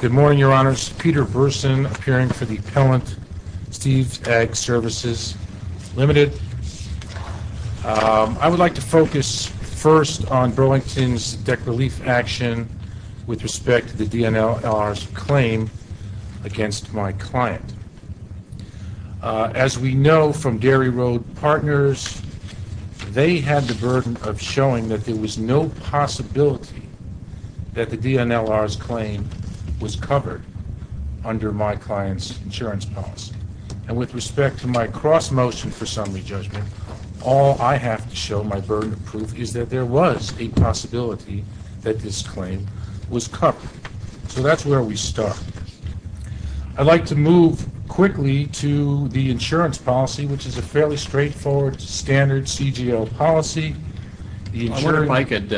Good morning, Your Honors. Peter Burson, appearing for the appellant, Steve's Ag Services Limited. I would like to focus first on Burlington's debt relief action with respect to the DNLR's claim against my client. As we know from Dairy Road Partners, they had the burden of showing that there was no possibility that the DNLR's claim was covered under my client's insurance policy. And with respect to my cross-motion for summary judgment, all I have to show, my burden of proof, is that there was a possibility that this claim was covered. So that's where we start. I'd like to move quickly to the insurance policy, which is a fairly straightforward standard CGO policy. I wonder if I could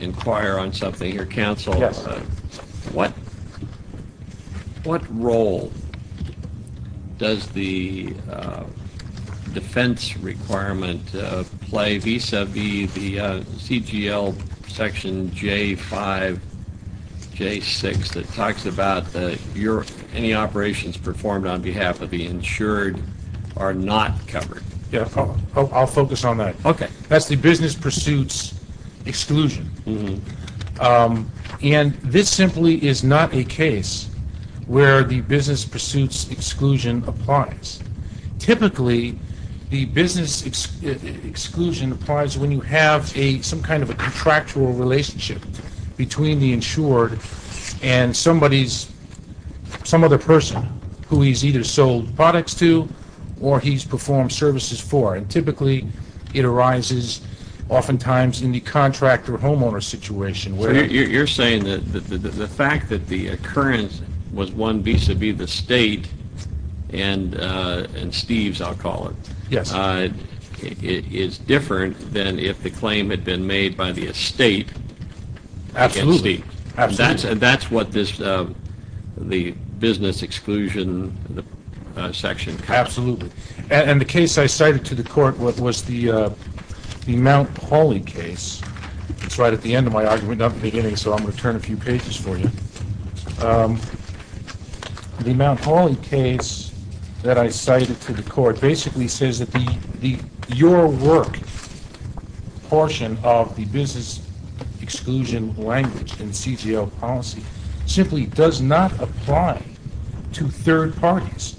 inquire on something here. Counsel, what role does the defense requirement play vis-a-vis the CGL section J5, J6 that talks about any operations performed on behalf of the insured are not covered? I'll focus on that. That's the And this simply is not a case where the business pursuits exclusion applies. Typically, the business exclusion applies when you have some kind of a contractual relationship between the insured and somebody's, some other person who he's either sold products to or he's performed services for. And typically, it arises oftentimes in the contractor homeowner situation. You're saying that the fact that the occurrence was one vis-a-vis the state and Steve's, I'll call it, is different than if the claim had been made by the estate. Absolutely. That's what this the business exclusion section covers. Absolutely. And the case I cited to the court was the Mount Pauly case. It's right at the end of my argument, not the beginning, so I'm going to turn a few pages for you. The Mount Pauly case that I cited to the court basically says that your work portion of the business exclusion language in CGL policy simply does not apply to third parties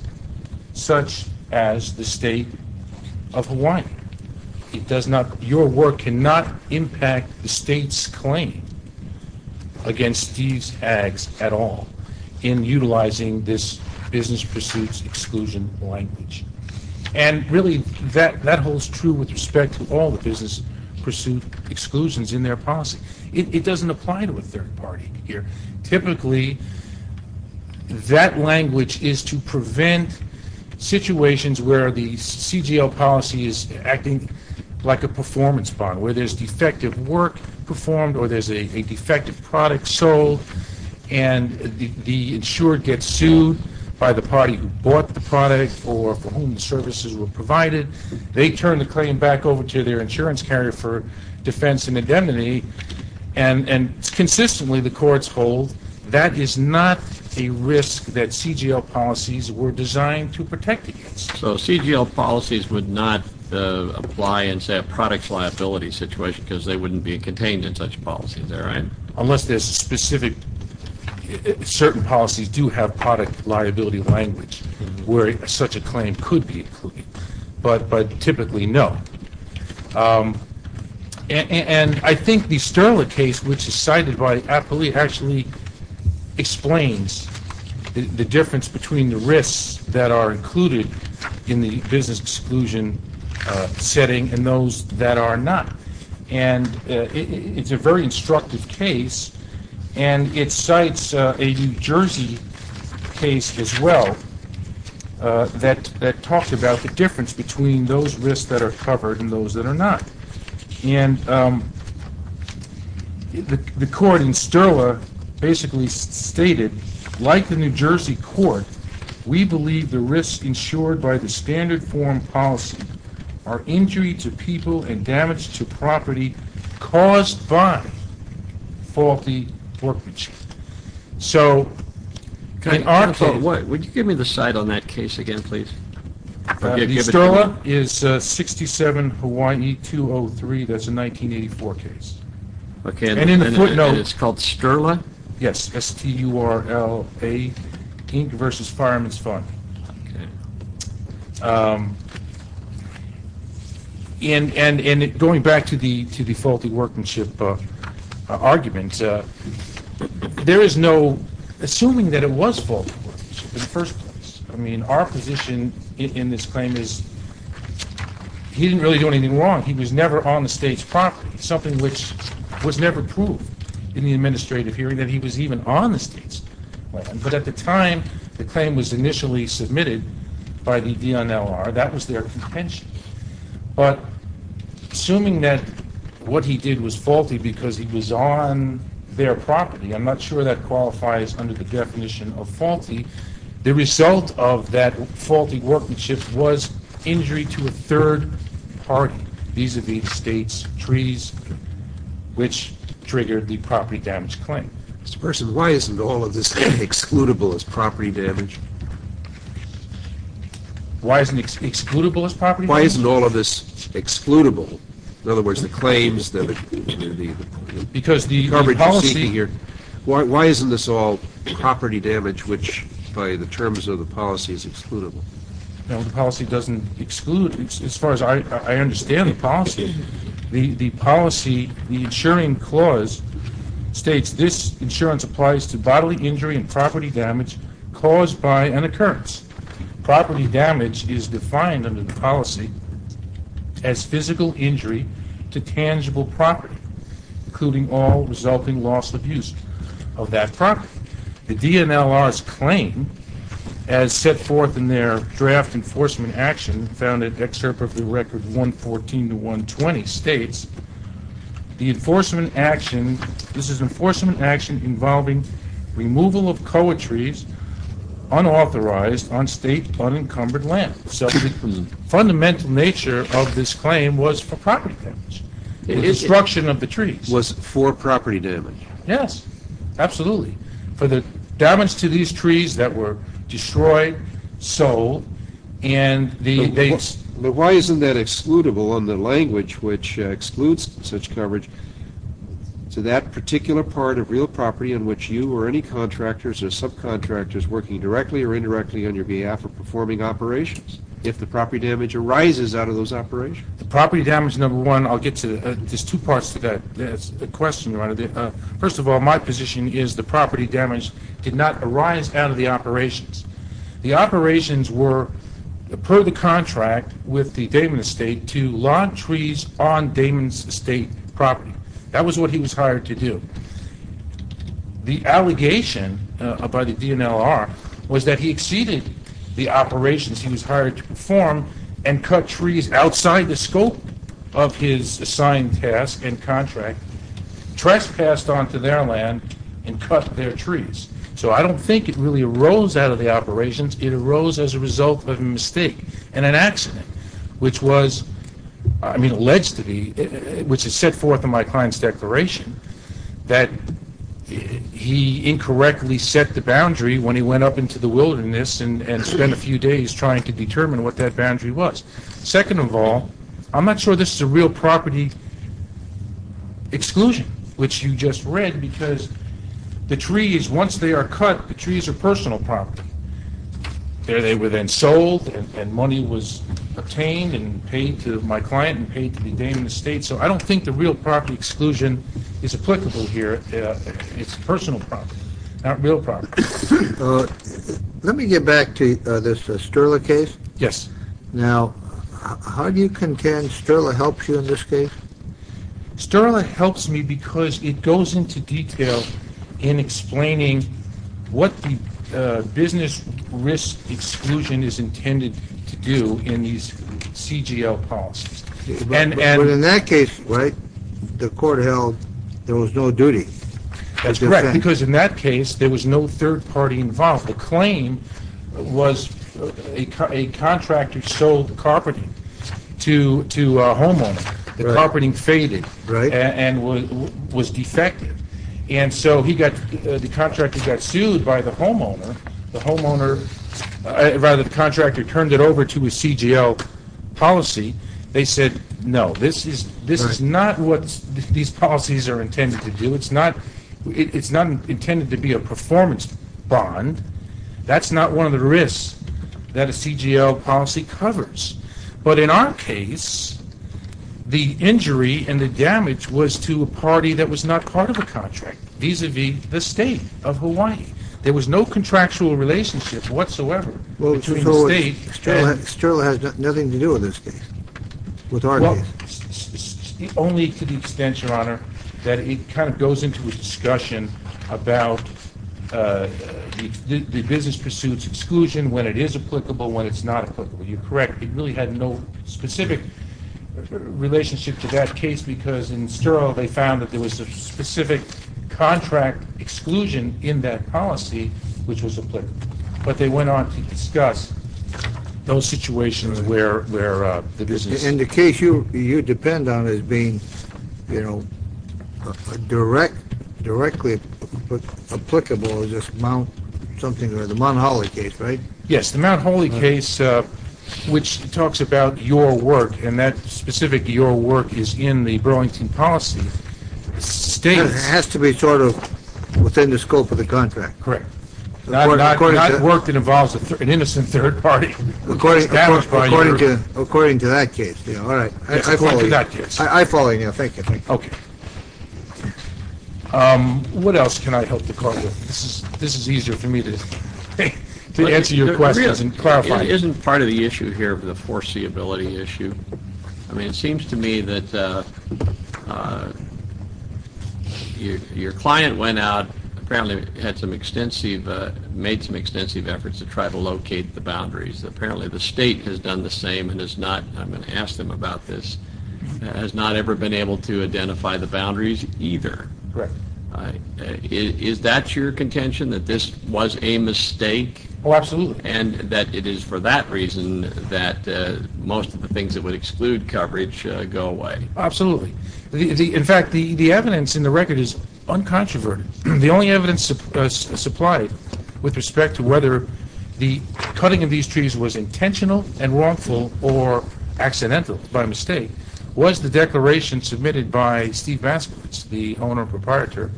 such as the state of Hawaii. It does not, your work cannot impact the state's claim against Steve's Ags at all in utilizing this business pursuits exclusion language. And really, that holds true with respect to all the business pursuit exclusions in their policy. It doesn't apply to a third party here. Typically, that language is to prevent situations where the CGL policy is acting like a performance bond, where there's defective work performed or there's a defective product sold and the insured gets sued by the party who bought the product or for whom the services were provided. They turn the claim back over to their insurance carrier for defense and consistently the courts hold that is not a risk that CGL policies were designed to protect against. So CGL policies would not apply in a product liability situation because they wouldn't be contained in such policies, is that right? Unless there's a specific, certain policies do have product liability language where such a claim could be included, but typically no. And I think the Sterla case, which is cited by Appoli, actually explains the difference between the risks that are included in the business exclusion setting and those that are not. And it's a very instructive case and it cites a New Jersey case as well that that talks about the difference between those risks that are covered and those that are not. And the court in Sterla basically stated, like the New Jersey court, we believe the risks insured by the standard form policy are injury to people and damage to property caused by faulty workmanship. So, in our case... 2203, that's a 1984 case. Okay, and it's called Sterla? Yes, S-T-U-R-L-A versus Fireman's Fund. And going back to the faulty workmanship argument, there is no assuming that it was faulty workmanship in the first place. I mean, our position in this claim is he didn't really do anything wrong. He was never on the state's property, something which was never proved in the administrative hearing that he was even on the state's land. But at the time, the claim was initially submitted by the DNLR. That was their contention. But assuming that what he did was faulty because he was on their property, I'm not sure that qualifies under the definition of faulty. The result of that faulty workmanship was injury to a third party vis-a-vis the state's treaties, which triggered the property damage claim. Mr. Person, why isn't all of this excludable as property damage? Why isn't it excludable as property damage? Why isn't all of this excludable? In other words, property damage which, by the terms of the policy, is excludable. The policy doesn't exclude, as far as I understand the policy. The policy, the insuring clause, states this insurance applies to bodily injury and property damage caused by an occurrence. Property damage is defined under the policy as physical injury to tangible property, including all resulting loss of use of that property. The DNLR's claim, as set forth in their draft enforcement action found in Excerpt of the Record 114 to 120, states the enforcement action, this is enforcement action involving removal of koa trees unauthorized on state unencumbered land. So the fundamental nature of this claim was for property damage. The destruction of the trees. Was for property damage. Yes, absolutely. For the damage to these trees that were destroyed, sold, and the... But why isn't that excludable on the language which excludes such coverage to that particular part of real property in which you or any contractors or subcontractors working directly or indirectly on your behalf or performing operations, if the property damage arises out of those operations? The property damage, number one, I'll get to, there's two parts to that question. First of all, my position is the property damage did not arise out of the operations. The operations were per the contract with the Damon Estate to log trees on Damon's Estate property. That was what he was hired to do. The allegation by the DNLR was that he exceeded the operations he was hired to perform and cut trees outside the scope of his assigned task and contract, trespassed onto their land and cut their trees. So I don't think it really arose out of the operations. It arose as a result of a mistake and an accident which was, I mean, alleged to be, which is set forth in my client's declaration, that he incorrectly set the boundary when he went up into the wilderness and spent a few days trying to determine what that boundary was. Second of all, I'm not sure this is a real property exclusion, which you just read, because the trees, once they are cut, the trees are personal property. They were then sold and money was obtained and paid to my client and paid to the Damon Estate, so I don't think the real property exclusion is applicable here. It's personal property, not real property. Let me get back to this Sterla case. Yes. Now, how do you contend Sterla helps you in this case? Sterla helps me because it goes into detail in explaining what the business risk exclusion is intended to do in these CGL policies. But in that case, right, the court held there was no duty. That's correct, because in that case there was no third party involved. The claim was a contractor sold the carpeting to a homeowner. The carpeting faded and was defected, and so he got, the contractor got sued by the homeowner. The homeowner, rather the contractor, turned it over to a CGL policy. They said no, this is not what these policies are intended to do. It's not intended to be a performance bond. That's not one of the risks that a CGL policy covers. But in our case, the injury and the damage was to a party that was not part of a contract, vis-a-vis the state of Hawaii. There was no contractual relationship whatsoever. Well, Sterla has nothing to do in this case, with our case. Only to the extent, your honor, that it kind of goes into a discussion about the business pursuits exclusion, when it is applicable, when it's not applicable. You're correct. It really had no specific relationship to that case, because in Sterl, they found that there was a specific contract exclusion in that policy, which was applicable. But they went on to discuss those situations where the business... In the case you depend on as being, you know, direct, directly applicable, the Mount Holy case, right? Yes, the Mount Holy case, which talks about your work, and that specific your work is in the Burlington policy, states... It has to be sort of within the scope of the contract. Correct. Not work that involves an innocent third party. According to that case. I follow you. Thank you. Okay. What else can I help the court with? This is easier for me to answer your questions and clarify. It isn't part of the issue here of the foreseeability issue. I mean, it seems to me that your client went out, apparently had some extensive, made some extensive efforts to try to locate the boundaries. Apparently the state has done the same and is not, I'm going to ask him about this, has not ever been able to identify the boundaries either. Is that your contention, that this was a mistake? Oh, absolutely. And that it is for that reason that most of the things that would exclude coverage go away? Absolutely. In fact, the evidence in the record is uncontroverted. The only evidence supplied with respect to whether the cutting of these trees was intentional and wrongful or accidental, by mistake, was the declaration submitted by Steve Vasquez, the owner and proprietor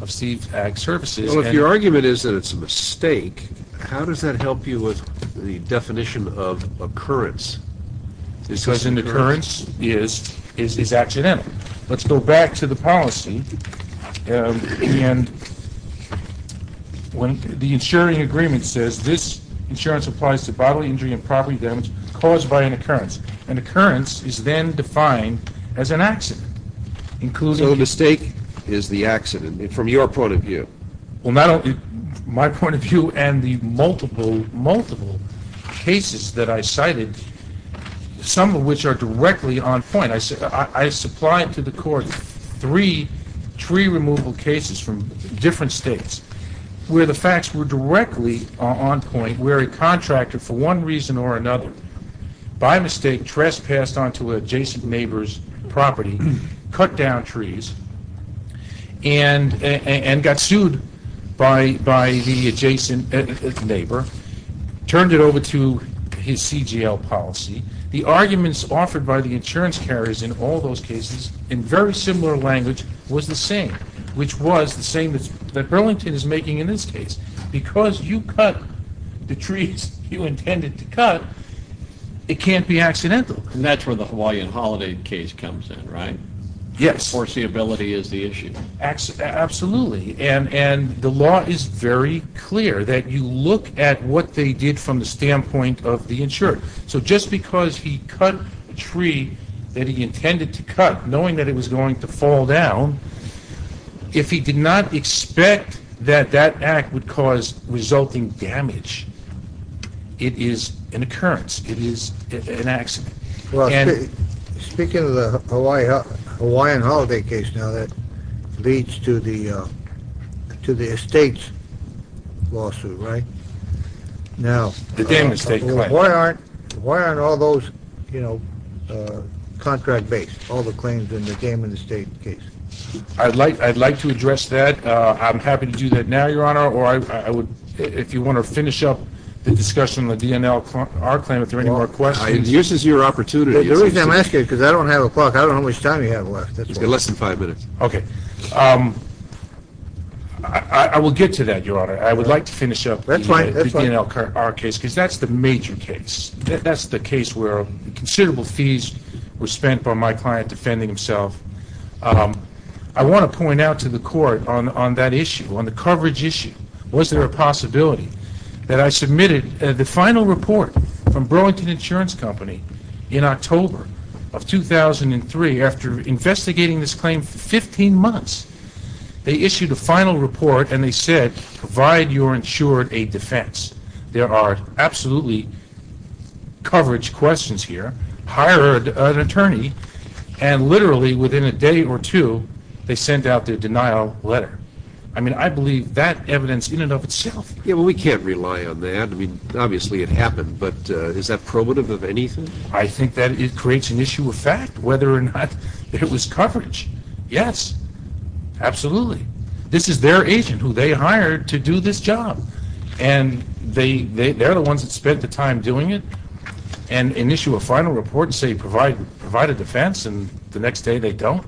of Steve's Ag Services. Well, if your argument is that it's a mistake, how does that help you with the definition of occurrence? Because an occurrence is accidental. Let's go back to the policy and when the insuring agreement says this insurance applies to bodily injury and property damage caused by an occurrence, an occurrence is then defined as an accident, including... So the mistake is the accident, from your point of view? Well, not only my point of view and the multiple, multiple cases that I cited, some of which are directly on point. I supply to the court three tree removal cases from different states where the facts were directly on point, where a contractor, for one reason or another, by mistake, trespassed onto an adjacent neighbor's property, cut down trees, and got sued by the adjacent neighbor, turned it over to his CGL policy. The arguments offered by the insurance carriers in all those cases were the same, which was the same that Burlington is making in this case. Because you cut the trees you intended to cut, it can't be accidental. And that's where the Hawaiian holiday case comes in, right? Yes. Forcibility is the issue. Absolutely, and the law is very clear that you look at what they did from the standpoint of the insured. So just because he cut a tree that he intended to cut, knowing that it was going to fall down, if he did not expect that that act would cause resulting damage, it is an occurrence, it is an accident. Speaking of the Hawaiian holiday case, now that leads to the to the estates lawsuit, right? Now, why aren't all those, you know, contract-based, all the claims in the game in the state case? I'd like to address that. I'm happy to do that now, Your Honor, or I would, if you want to finish up the discussion on the DNL-R claim, if there are any more questions. This is your opportunity. The reason I'm asking is because I don't have a clock. I don't know how much time you have left. Less than five minutes. Okay, I will get to that, Your Honor. I would like to finish up the DNL-R case, because that's the major case. That's the case where considerable fees were spent by my client defending himself. I want to point out to the Court on that issue, on the coverage issue, was there a possibility that I submitted the final report from Burlington Insurance Company in October of 2003, after investigating this claim for 15 months. They issued a final report and they said, provide your insured a coverage questions here, hired an attorney, and literally within a day or two, they sent out the denial letter. I mean, I believe that evidence in and of itself. Yeah, well, we can't rely on that. I mean, obviously it happened, but is that probative of anything? I think that it creates an issue of fact, whether or not it was coverage. Yes, absolutely. This is their agent who they hired to do this time doing it and issue a final report and say, provide a defense, and the next day they don't.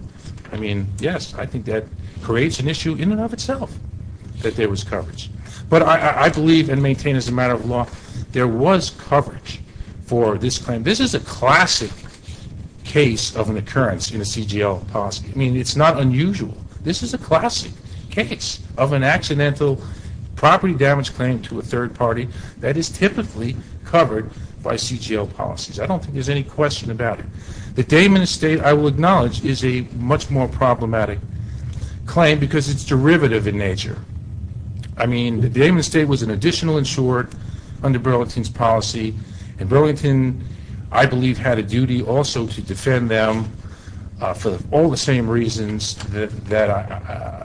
I mean, yes, I think that creates an issue in and of itself that there was coverage. But I believe and maintain as a matter of law, there was coverage for this claim. This is a classic case of an occurrence in a CGL policy. I mean, it's not unusual. This is a classic case of an accidental property damage claim to a third party that is typically covered by CGL policies. I don't think there's any question about it. The Damon Estate, I will acknowledge, is a much more problematic claim because it's derivative in nature. I mean, the Damon Estate was an additional insured under Burlington's policy, and Burlington, I believe, had a duty also to defend them for all the same reasons that,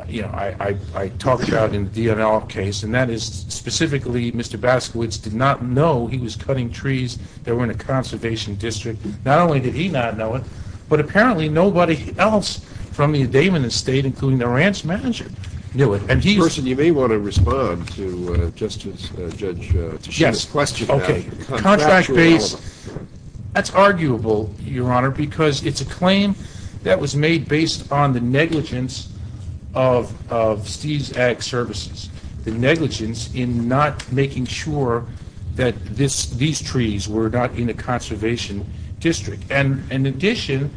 you know, I talked about in the D'Avala case, and that is specifically Mr. Baskowitz did not know he was cutting trees that were in a conservation district. Not only did he not know it, but apparently nobody else from the Damon Estate, including the ranch manager, knew it. And he... You may want to respond to Justice, Judge Tichina's question. Okay, contract-based, that's arguable, Your Honor, because it's a claim that was made based on the negligence of Steve's Ag Services, the negligence in not making sure that these trees were not in a conservation district. And in addition,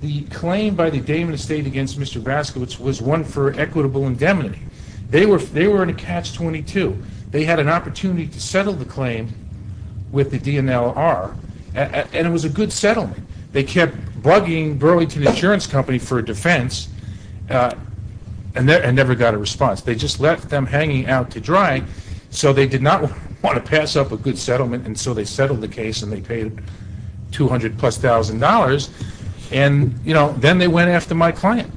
the claim by the Damon Estate against Mr. Baskowitz was one for equitable indemnity. They were in a catch-22. They had an opportunity to settle the claim with the DNLR, and it was a good settlement. They kept bugging Burlington Insurance Company for a defense, and never got a response. They just left them hanging out to dry, so they did not want to pass up a good settlement, and so they settled the case, and they paid $200,000 plus. And, you know, then they went after my client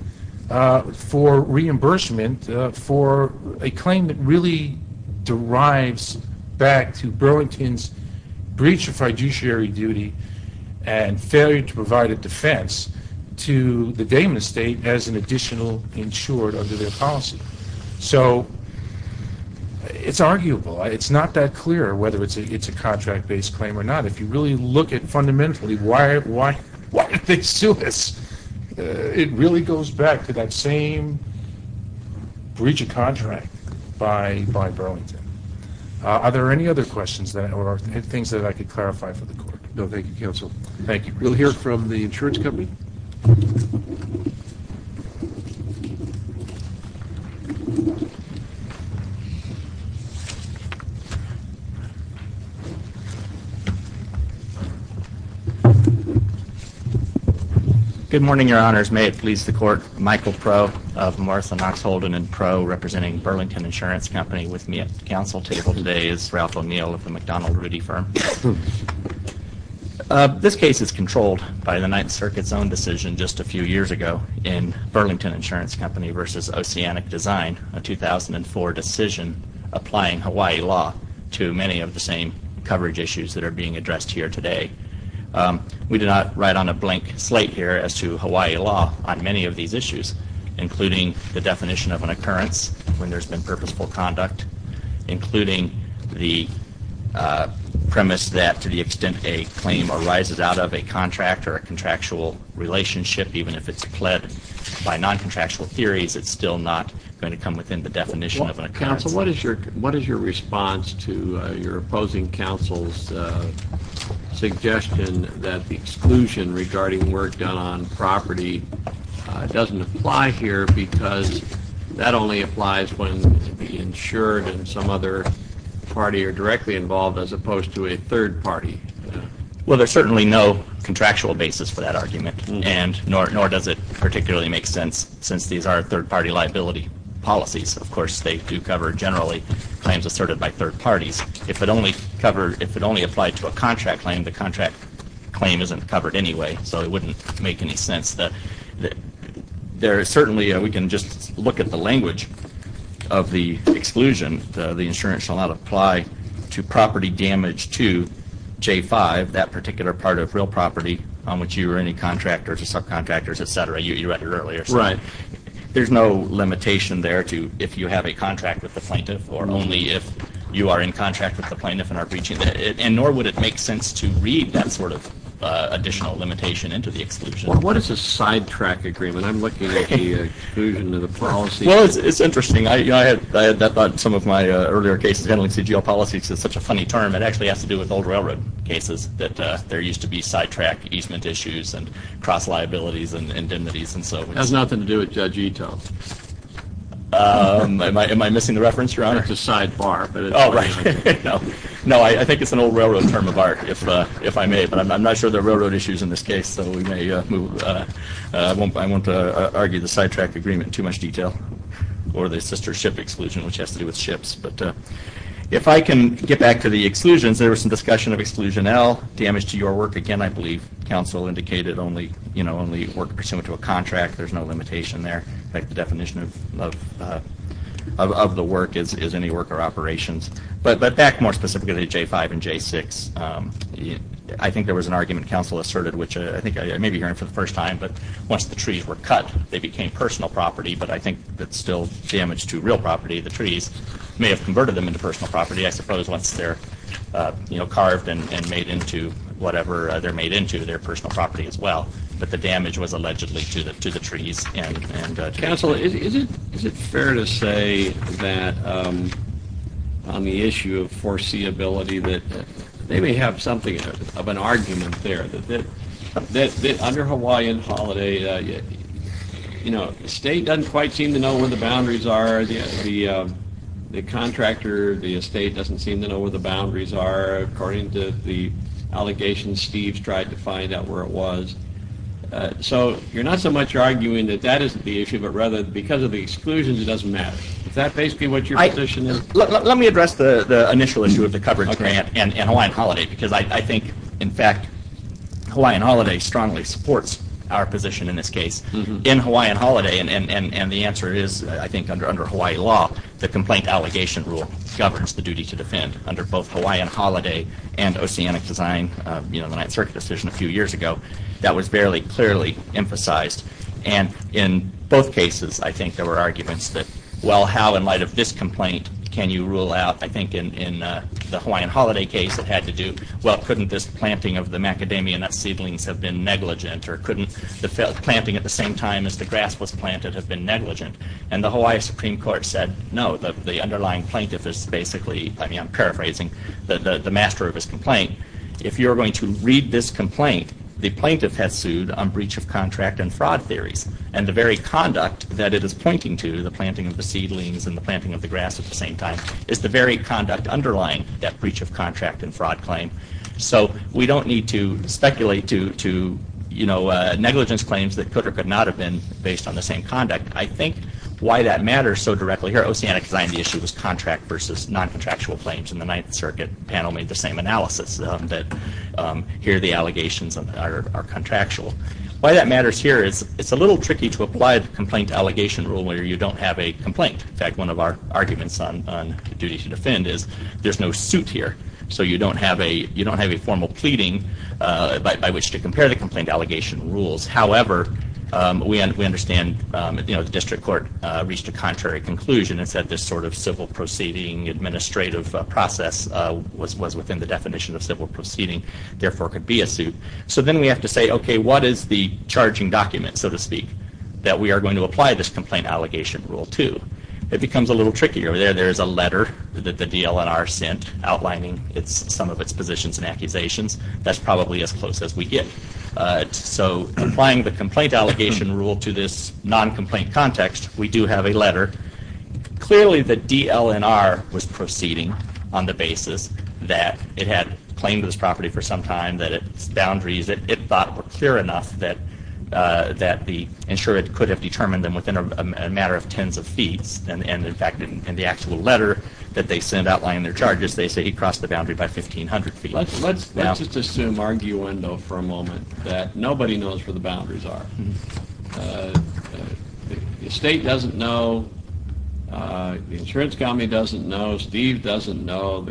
for reimbursement for a claim that really derives back to the Damon Estate as an additional insured under their policy. So, it's arguable. It's not that clear whether it's a contract-based claim or not. If you really look at, fundamentally, why did they sue us? It really goes back to that same breach of contract by Burlington. Are there any other questions, or things that I could clarify for the Court? No, thank you, Counsel. Thank you. We'll hear from the insurance company. Good morning, Your Honors. May it please the Court, Michael Proe of Martha Knox Holden & Proe, representing Burlington Insurance Company, with me at the Counsel table today is Ralph O'Neill of the McDonnell Rudy Firm. This case is controlled by the Ninth Circuit's own decision just a few years ago in Burlington Insurance Company v. Oceanic Design, a 2004 decision applying Hawaii law to many of the same coverage issues that are being addressed here today. We did not write on a blank slate here as to Hawaii law on many of these issues, including the definition of an occurrence when there's been purposeful conduct, including the premise that to the extent a claim arises out of a contract or a contractual relationship, even if it's pled by non-contractual theories, it's still not going to come within the definition of an occurrence. Counsel, what is your response to your opposing counsel's suggestion that the exclusion regarding work done on property doesn't apply here because that only applies when the insured and some other party are directly involved as opposed to a third party? Well, there's certainly no contractual basis for that argument and nor does it particularly make sense since these are third-party liability policies. Of course, they do cover generally claims asserted by third parties. If it only covered, if it only applied to a contract claim, the contract claim isn't covered anyway, so it wouldn't make any sense that there certainly, we can just look at the language of the exclusion, the insurance shall not apply to property damage to J-5, that particular part of real property on which you or any contractors or subcontractors, etc. You read it earlier. Right. There's no limitation there to if you have a contract with the plaintiff or only if you are in contract with the plaintiff and are breaching that and nor would it make sense to read that sort of additional limitation into the exclusion. What is a sidetrack agreement? I'm looking at the exclusion of the policy. Well, it's interesting. I had that thought in some of my earlier cases handling CGL policies. It's such a funny term. It actually has to do with old railroad cases that there used to be sidetrack easement issues and cross liabilities and indemnities and so. It has nothing to do with Judge Ito. Am I missing the reference, Your Honor? It's a sidebar. Oh, right. No, I think it's an old railroad term of art, if I may, but I'm not sure there are railroad issues in this case, so we may move. I won't argue the sidetrack agreement in too much detail or the sister ship exclusion, which has to do with ships. But if I can get back to the exclusions, there was some discussion of exclusion L, damage to your work. Again, I believe counsel indicated only, you know, only work pursuant to a contract. There's no limitation there. In fact, the definition of the work is any worker operations. But back more specifically to J5 and J6, I think there was an argument counsel asserted, which I think I may be hearing for the first time, but once the trees were cut, they became personal property. But I think that still damage to real property, the trees, may have converted them into personal property, I suppose, once they're, you know, carved and made into whatever they're made into, their personal property as well. But the damage was allegedly to the trees. Counsel, is it fair to say that on the issue of foreseeability that they may have something of an argument there, that under Hawaiian holiday, you know, the state doesn't quite seem to know where the boundaries are, the contractor, the estate doesn't seem to know where the boundaries are, according to the allegations Steve's tried to find out where it was. So you're not so much arguing that that isn't the issue, but rather because of the exclusions it doesn't matter. Is that basically what your position is? Let me address the initial issue of the coverage grant and Hawaiian holiday, because I think, in fact, Hawaiian holiday strongly supports our position in this case. In Hawaiian holiday, and the answer is, I think, under Hawaii law, the complaint allegation rule governs the duty to defend under both Hawaiian holiday and Oceanic Design, you know, the Ninth Circuit decision a few years ago, that was fairly clearly emphasized. And in both cases, I think there were arguments that, well, how in light of this complaint can you rule out, I think, in the Hawaiian holiday case, it had to do, well, couldn't this planting of the macadamia nut seedlings have been negligent, or couldn't the planting at the same time as the grass was planted have been negligent? And the Hawaii Supreme Court said, no, the underlying plaintiff is basically, I mean, I'm paraphrasing, the master of his complaint. If you're going to read this complaint, the plaintiff has sued on breach of contract and fraud theories, and the very conduct that it is pointing to, the planting of the seedlings and the planting of the grass at the same time, is the very conduct underlying that breach of contract and fraud claim. So we don't need to speculate to, you know, negligence claims that could or could not have been based on the same conduct. I think why that matters so directly here, Oceanic Design, the issue was contract versus non-contractual claims, and the Ninth Circuit panel made the same analysis, that here the allegations are contractual. Why that matters here is it's a little tricky to make sure you don't have a complaint. In fact, one of our arguments on duty to defend is, there's no suit here. So you don't have a formal pleading by which to compare the complaint allegation rules. However, we understand, you know, the district court reached a contrary conclusion and said this sort of civil proceeding administrative process was within the definition of civil proceeding, therefore could be a suit. So then we have to say, okay, what is the charging document, so to speak, that we are going to apply this complaint allegation rule to? It becomes a little trickier. There is a letter that the DLNR sent outlining some of its positions and accusations. That's probably as close as we get. So applying the complaint allegation rule to this non-complaint context, we do have a letter. Clearly the DLNR was proceeding on the basis that it had claimed this property for some time, that its boundaries that it thought were clear enough that the insured could have determined them within a matter of tens of feet. And in fact, in the actual letter that they sent outlining their charges, they say he crossed the boundary by 1,500 feet. Let's just assume, arguendo for a moment, that nobody knows where the boundaries are. The state doesn't know, the insurance company doesn't know, Steve doesn't know,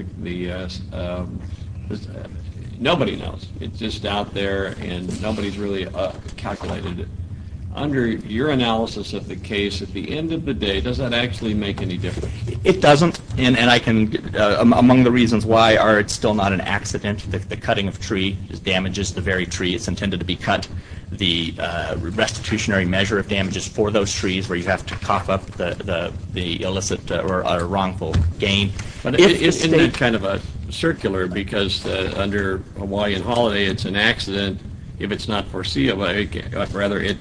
nobody knows. It's just out there and nobody's really calculated it. Under your analysis of the case, at the end of the day, does that actually make any difference? It doesn't, and I can, among the reasons why, are it's still not an accident. The cutting of tree damages the very tree. It's intended to be cut. The restitutionary measure of damage is for those trees where you have to cough up the illicit or wrongful gain. But isn't that kind of a circular, because under Hawaiian holiday it's an accident. If it's not foreseeable, rather it,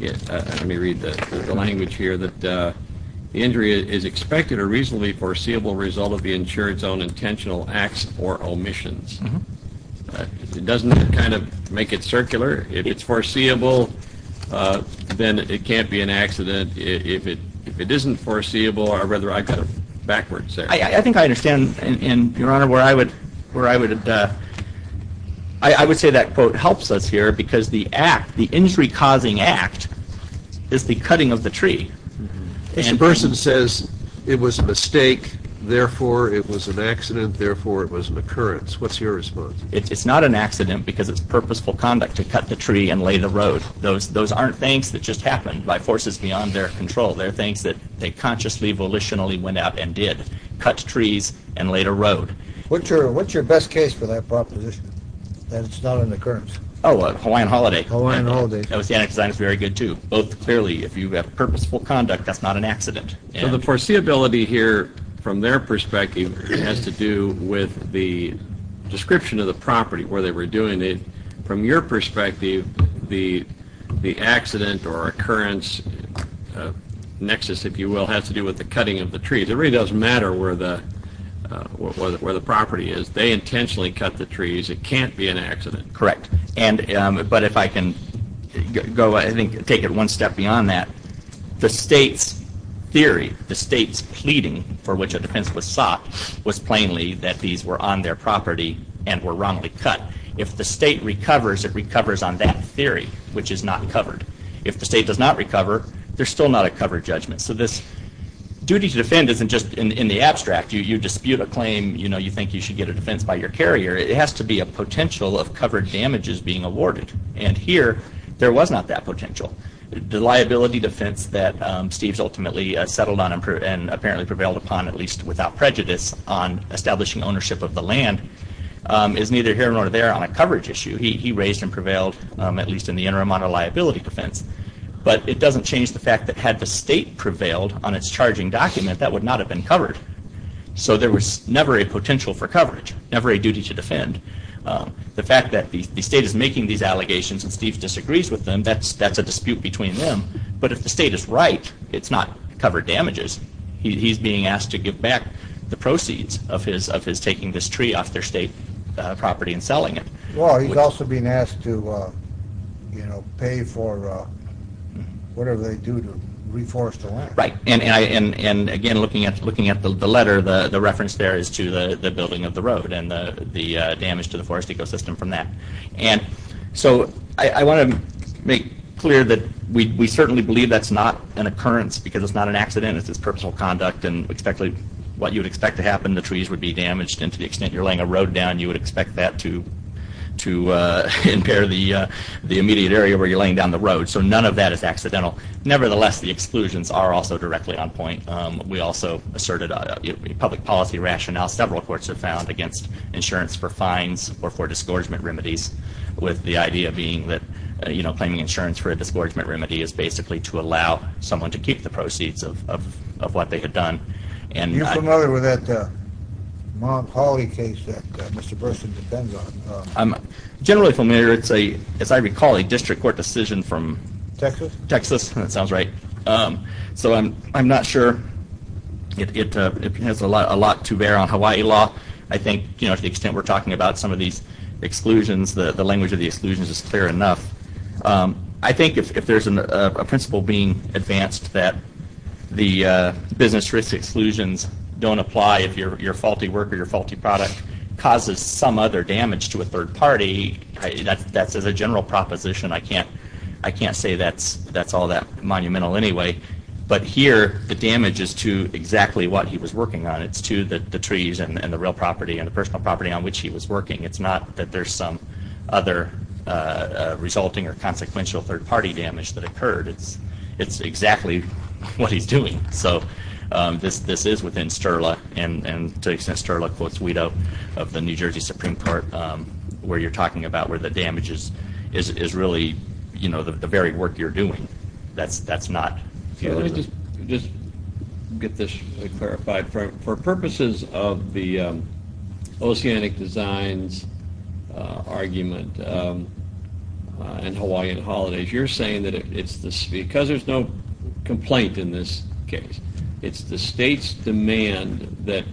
let me read the language here, that the injury is expected or reasonably foreseeable result of the insured's own intentional acts or omissions. It doesn't kind of make it circular. If it's foreseeable, then it can't be an accident. If it isn't foreseeable, or rather I got it backwards there. I think I understand, Your Honor, where I would, I would say that quote helps us here because the act, the injury-causing act, is the cutting of the tree. The person says it was a mistake, therefore it was an accident, therefore it was an occurrence. What's your response? It's not an accident because it's purposeful conduct to cut the tree and lay the road. Those aren't things that just happened by forces beyond their control. They're things that they consciously, volitionally went out and did. Cut trees and laid a road. What's your best case for that proposition, that it's not an occurrence? Oh, Hawaiian holiday. Hawaiian holiday. Oceanic design is very good too. Both clearly, if you have purposeful conduct, that's not an accident. So the foreseeability here, from their perspective, has to do with the description of the property where they were doing it. From your perspective, the the accident or occurrence nexus, if you will, has to do with the cutting of the where the property is. They intentionally cut the trees. It can't be an accident. Correct. And but if I can go, I think, take it one step beyond that. The state's theory, the state's pleading for which a defense was sought, was plainly that these were on their property and were wrongly cut. If the state recovers, it recovers on that theory, which is not covered. If the state does not recover, there's still not a covered judgment. So this duty to defend isn't just in the abstract. You dispute a claim, you know, you think you should get a defense by your carrier. It has to be a potential of covered damages being awarded. And here, there was not that potential. The liability defense that Steve's ultimately settled on and apparently prevailed upon, at least without prejudice, on establishing ownership of the land is neither here nor there on a coverage issue. He raised and prevailed, at least in the interim, on a liability defense. But it doesn't change the fact that had the state prevailed on its covered. So there was never a potential for coverage, never a duty to defend. The fact that the state is making these allegations and Steve disagrees with them, that's a dispute between them. But if the state is right, it's not covered damages. He's being asked to give back the proceeds of his taking this tree off their state property and selling it. Well, he's also being asked to you know, pay for whatever they do to reforest the land. Right, and again looking at the letter, the reference there is to the building of the road and the damage to the forest ecosystem from that. And so I want to make clear that we certainly believe that's not an occurrence because it's not an accident. It's just personal conduct and what you would expect to happen. The trees would be damaged and to the extent you're laying a road down, you would expect that to impair the immediate area where you're laying down the road. So none of that is accidental. Nevertheless, the court also asserted a public policy rationale, several courts have found, against insurance for fines or for disgorgement remedies. With the idea being that, you know, claiming insurance for a disgorgement remedy is basically to allow someone to keep the proceeds of what they had done. Are you familiar with that Monopoly case that Mr. Burson depends on? I'm generally familiar. It's a, as I recall, a it has a lot to bear on Hawaii law. I think, you know, to the extent we're talking about some of these exclusions, the language of the exclusions is clear enough. I think if there's a principle being advanced that the business risk exclusions don't apply if your faulty work or your faulty product causes some other damage to a third party, that's as a general proposition. I can't say that's all that monumental anyway, but here the damage is to exactly what he was working on. It's to the trees and the real property and the personal property on which he was working. It's not that there's some other resulting or consequential third-party damage that occurred. It's exactly what he's doing. So this is within STERLA, and STERLA quotes Weto of the New Jersey Supreme Court, where you're talking about where the damages is really, you know, the very work you're doing. That's not. Let me just get this clarified. For purposes of the oceanic designs argument and Hawaiian holidays, you're saying that it's this, because there's no complaint in this case, it's the state's demand that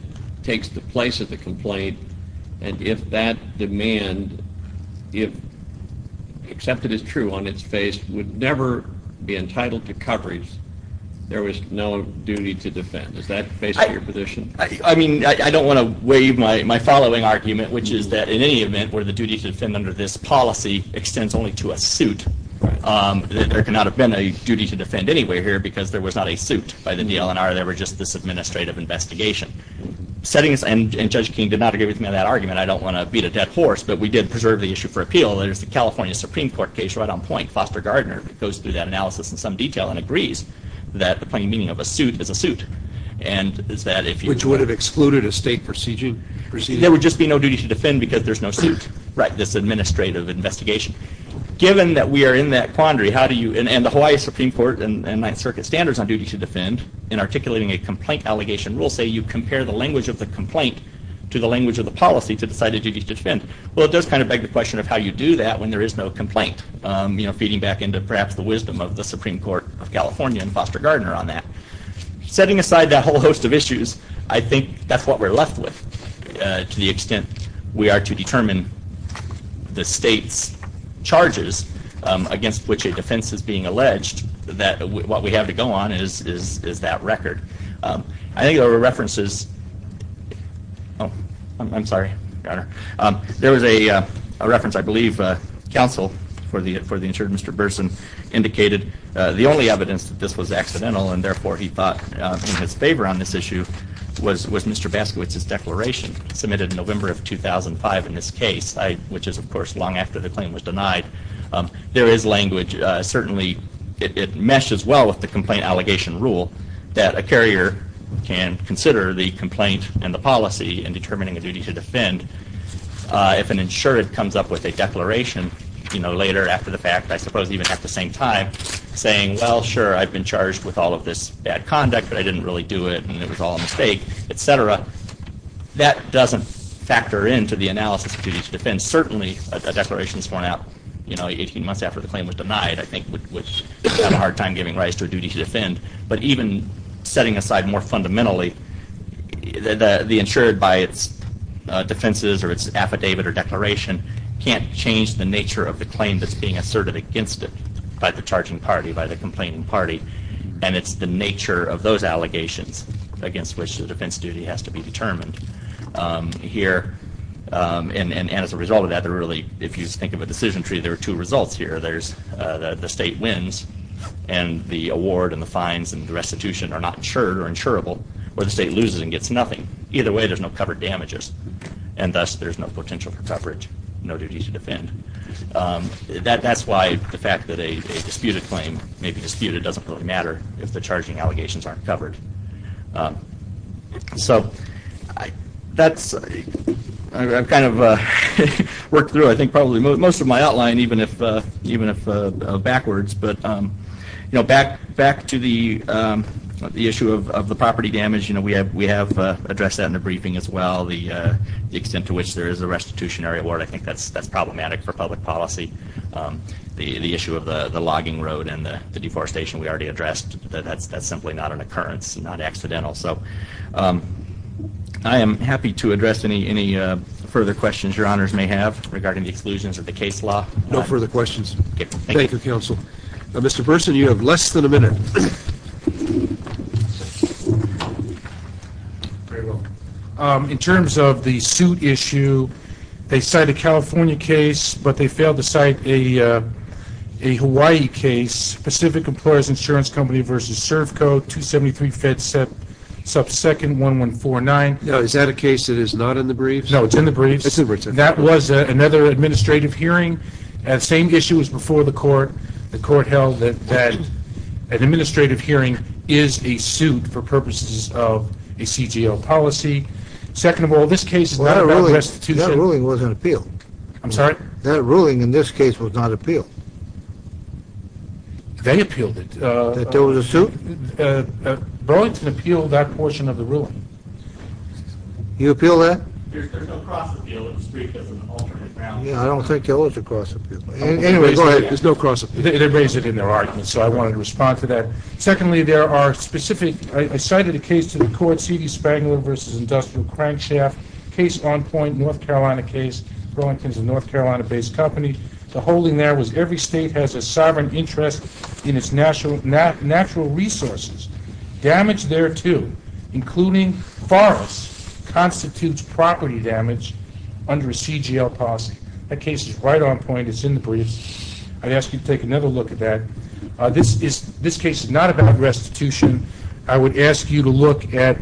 takes the place of the complaint, and if that demand, if accepted as true on its face, would never be entitled to coverage, there was no duty to defend. Is that based on your position? I mean, I don't want to waive my following argument, which is that in any event where the duty to defend under this policy extends only to a suit, there cannot have been a duty to defend anywhere here because there was not a suit by the DLNR. There were just this administrative investigation. Settings and Judge King did not agree with me on that argument. I don't want to beat a dead horse, but we did preserve the issue for appeal. There's the California Supreme Court case right on point. Foster Gardner goes through that analysis in some detail and agrees that the plain meaning of a suit is a suit, and is that if you... Which would have excluded a state procedure? There would just be no duty to defend because there's no suit, right, this administrative investigation. Given that we are in that quandary, how do you, and the Hawaii Supreme Court and Ninth Circuit standards on duty to defend in articulating a complaint allegation rule say you compare the language of the complaint to the language of the policy to decide a duty to defend. Well, it does kind of beg the question of how you do that when there is no complaint, you know, feeding back into perhaps the wisdom of the Supreme Court of California and Foster Gardner on that. Setting aside that whole host of issues, I think that's what we're left with to the extent we are to determine the state's charges against which a defense is being alleged, that what we have to go on is that record. I think there were references... I'm sorry, there was a reference, I believe, counsel for the insured Mr. Burson indicated the only evidence that this was accidental and therefore he thought in his favor on this issue was Mr. Baskowitz's declaration submitted in November of 2005 in this case, which is of course long after the claim was denied. There is language, certainly it meshes well with the complaint allegation rule that a carrier can consider the complaint and the policy in determining a duty to defend. If an insured comes up with a declaration, you know, later after the fact, I suppose even at the same time, saying well sure I've been charged with all of this bad conduct but I didn't really do it and it was all a mistake, etc., that doesn't factor into the analysis of duty to defend. Certainly a claim was denied, I think, would have a hard time giving rise to a duty to defend, but even setting aside more fundamentally, the insured by its defenses or its affidavit or declaration can't change the nature of the claim that's being asserted against it by the charging party, by the complaining party, and it's the nature of those allegations against which the defense duty has to be determined here. And as a result of that, they're really, if you think of a few results here, there's the state wins and the award and the fines and the restitution are not insured or insurable or the state loses and gets nothing. Either way, there's no covered damages and thus there's no potential for coverage, no duty to defend. That's why the fact that a disputed claim may be disputed doesn't really matter if the charging allegations aren't covered. So that's kind of worked through, I think, probably most of my outline, even if backwards, but back to the issue of the property damage, we have addressed that in the briefing as well. The extent to which there is a restitutionary award, I think that's problematic for public policy. The issue of the logging road and the deforestation we already addressed, that's simply not an occurrence, not I am happy to address any further questions your honors may have regarding the exclusions of the case law. No further questions. Thank you, counsel. Mr. Burson, you have less than a minute. In terms of the suit issue, they cite a California case, but they failed to cite a Hawaii case, Pacific Employers Insurance Company v. Servco, 273 fed sub second 1149. Is that a case that is not in the briefs? No, it's in the briefs. That was another administrative hearing. The same issue was before the court. The court held that an administrative hearing is a suit for purposes of a CGL policy. Second of all, this case is not about restitution. That ruling wasn't appealed. I'm sorry? That ruling in this case was not appealed. They appealed it. That there was a suit? Burlington appealed that portion of the ruling. You appealed that? I don't think there was a cross appeal. Anyway, go ahead, there's no cross appeal. They raised it in their argument, so I wanted to respond to that. Secondly, there are specific, I cited a case to the court, C.D. Spangler v. Industrial Crankshaft, case on point, North Carolina case, Burlington's a North Carolina-based company. The holding there was every state has a sovereign interest in its natural resources. Damage thereto, including forests, constitutes property damage under a CGL policy. That case is right on point. It's in the briefs. I'd ask you to take another look at that. This case is not about restitution. I would ask you to look at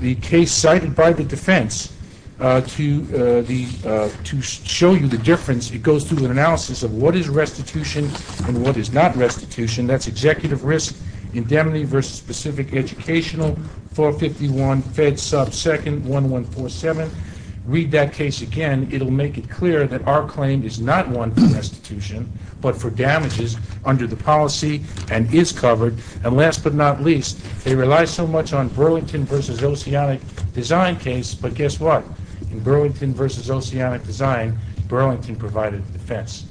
the case cited by the defense to show you the difference. It goes through an analysis of what is restitution and what is not restitution. That's executive risk, indemnity versus specific educational, 451 Fed sub 2nd 1147. Read that case again. It'll make it clear that our claim is not one for restitution, but for damages under the policy and is covered. And last but not least, they rely so much on Burlington v. Oceanic Design case, but guess what? In Burlington v. Oceanic Design, Burlington provided defense.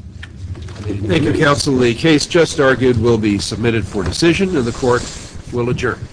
Thank you, Counsel. The case just argued will be submitted for decision and the court will adjourn.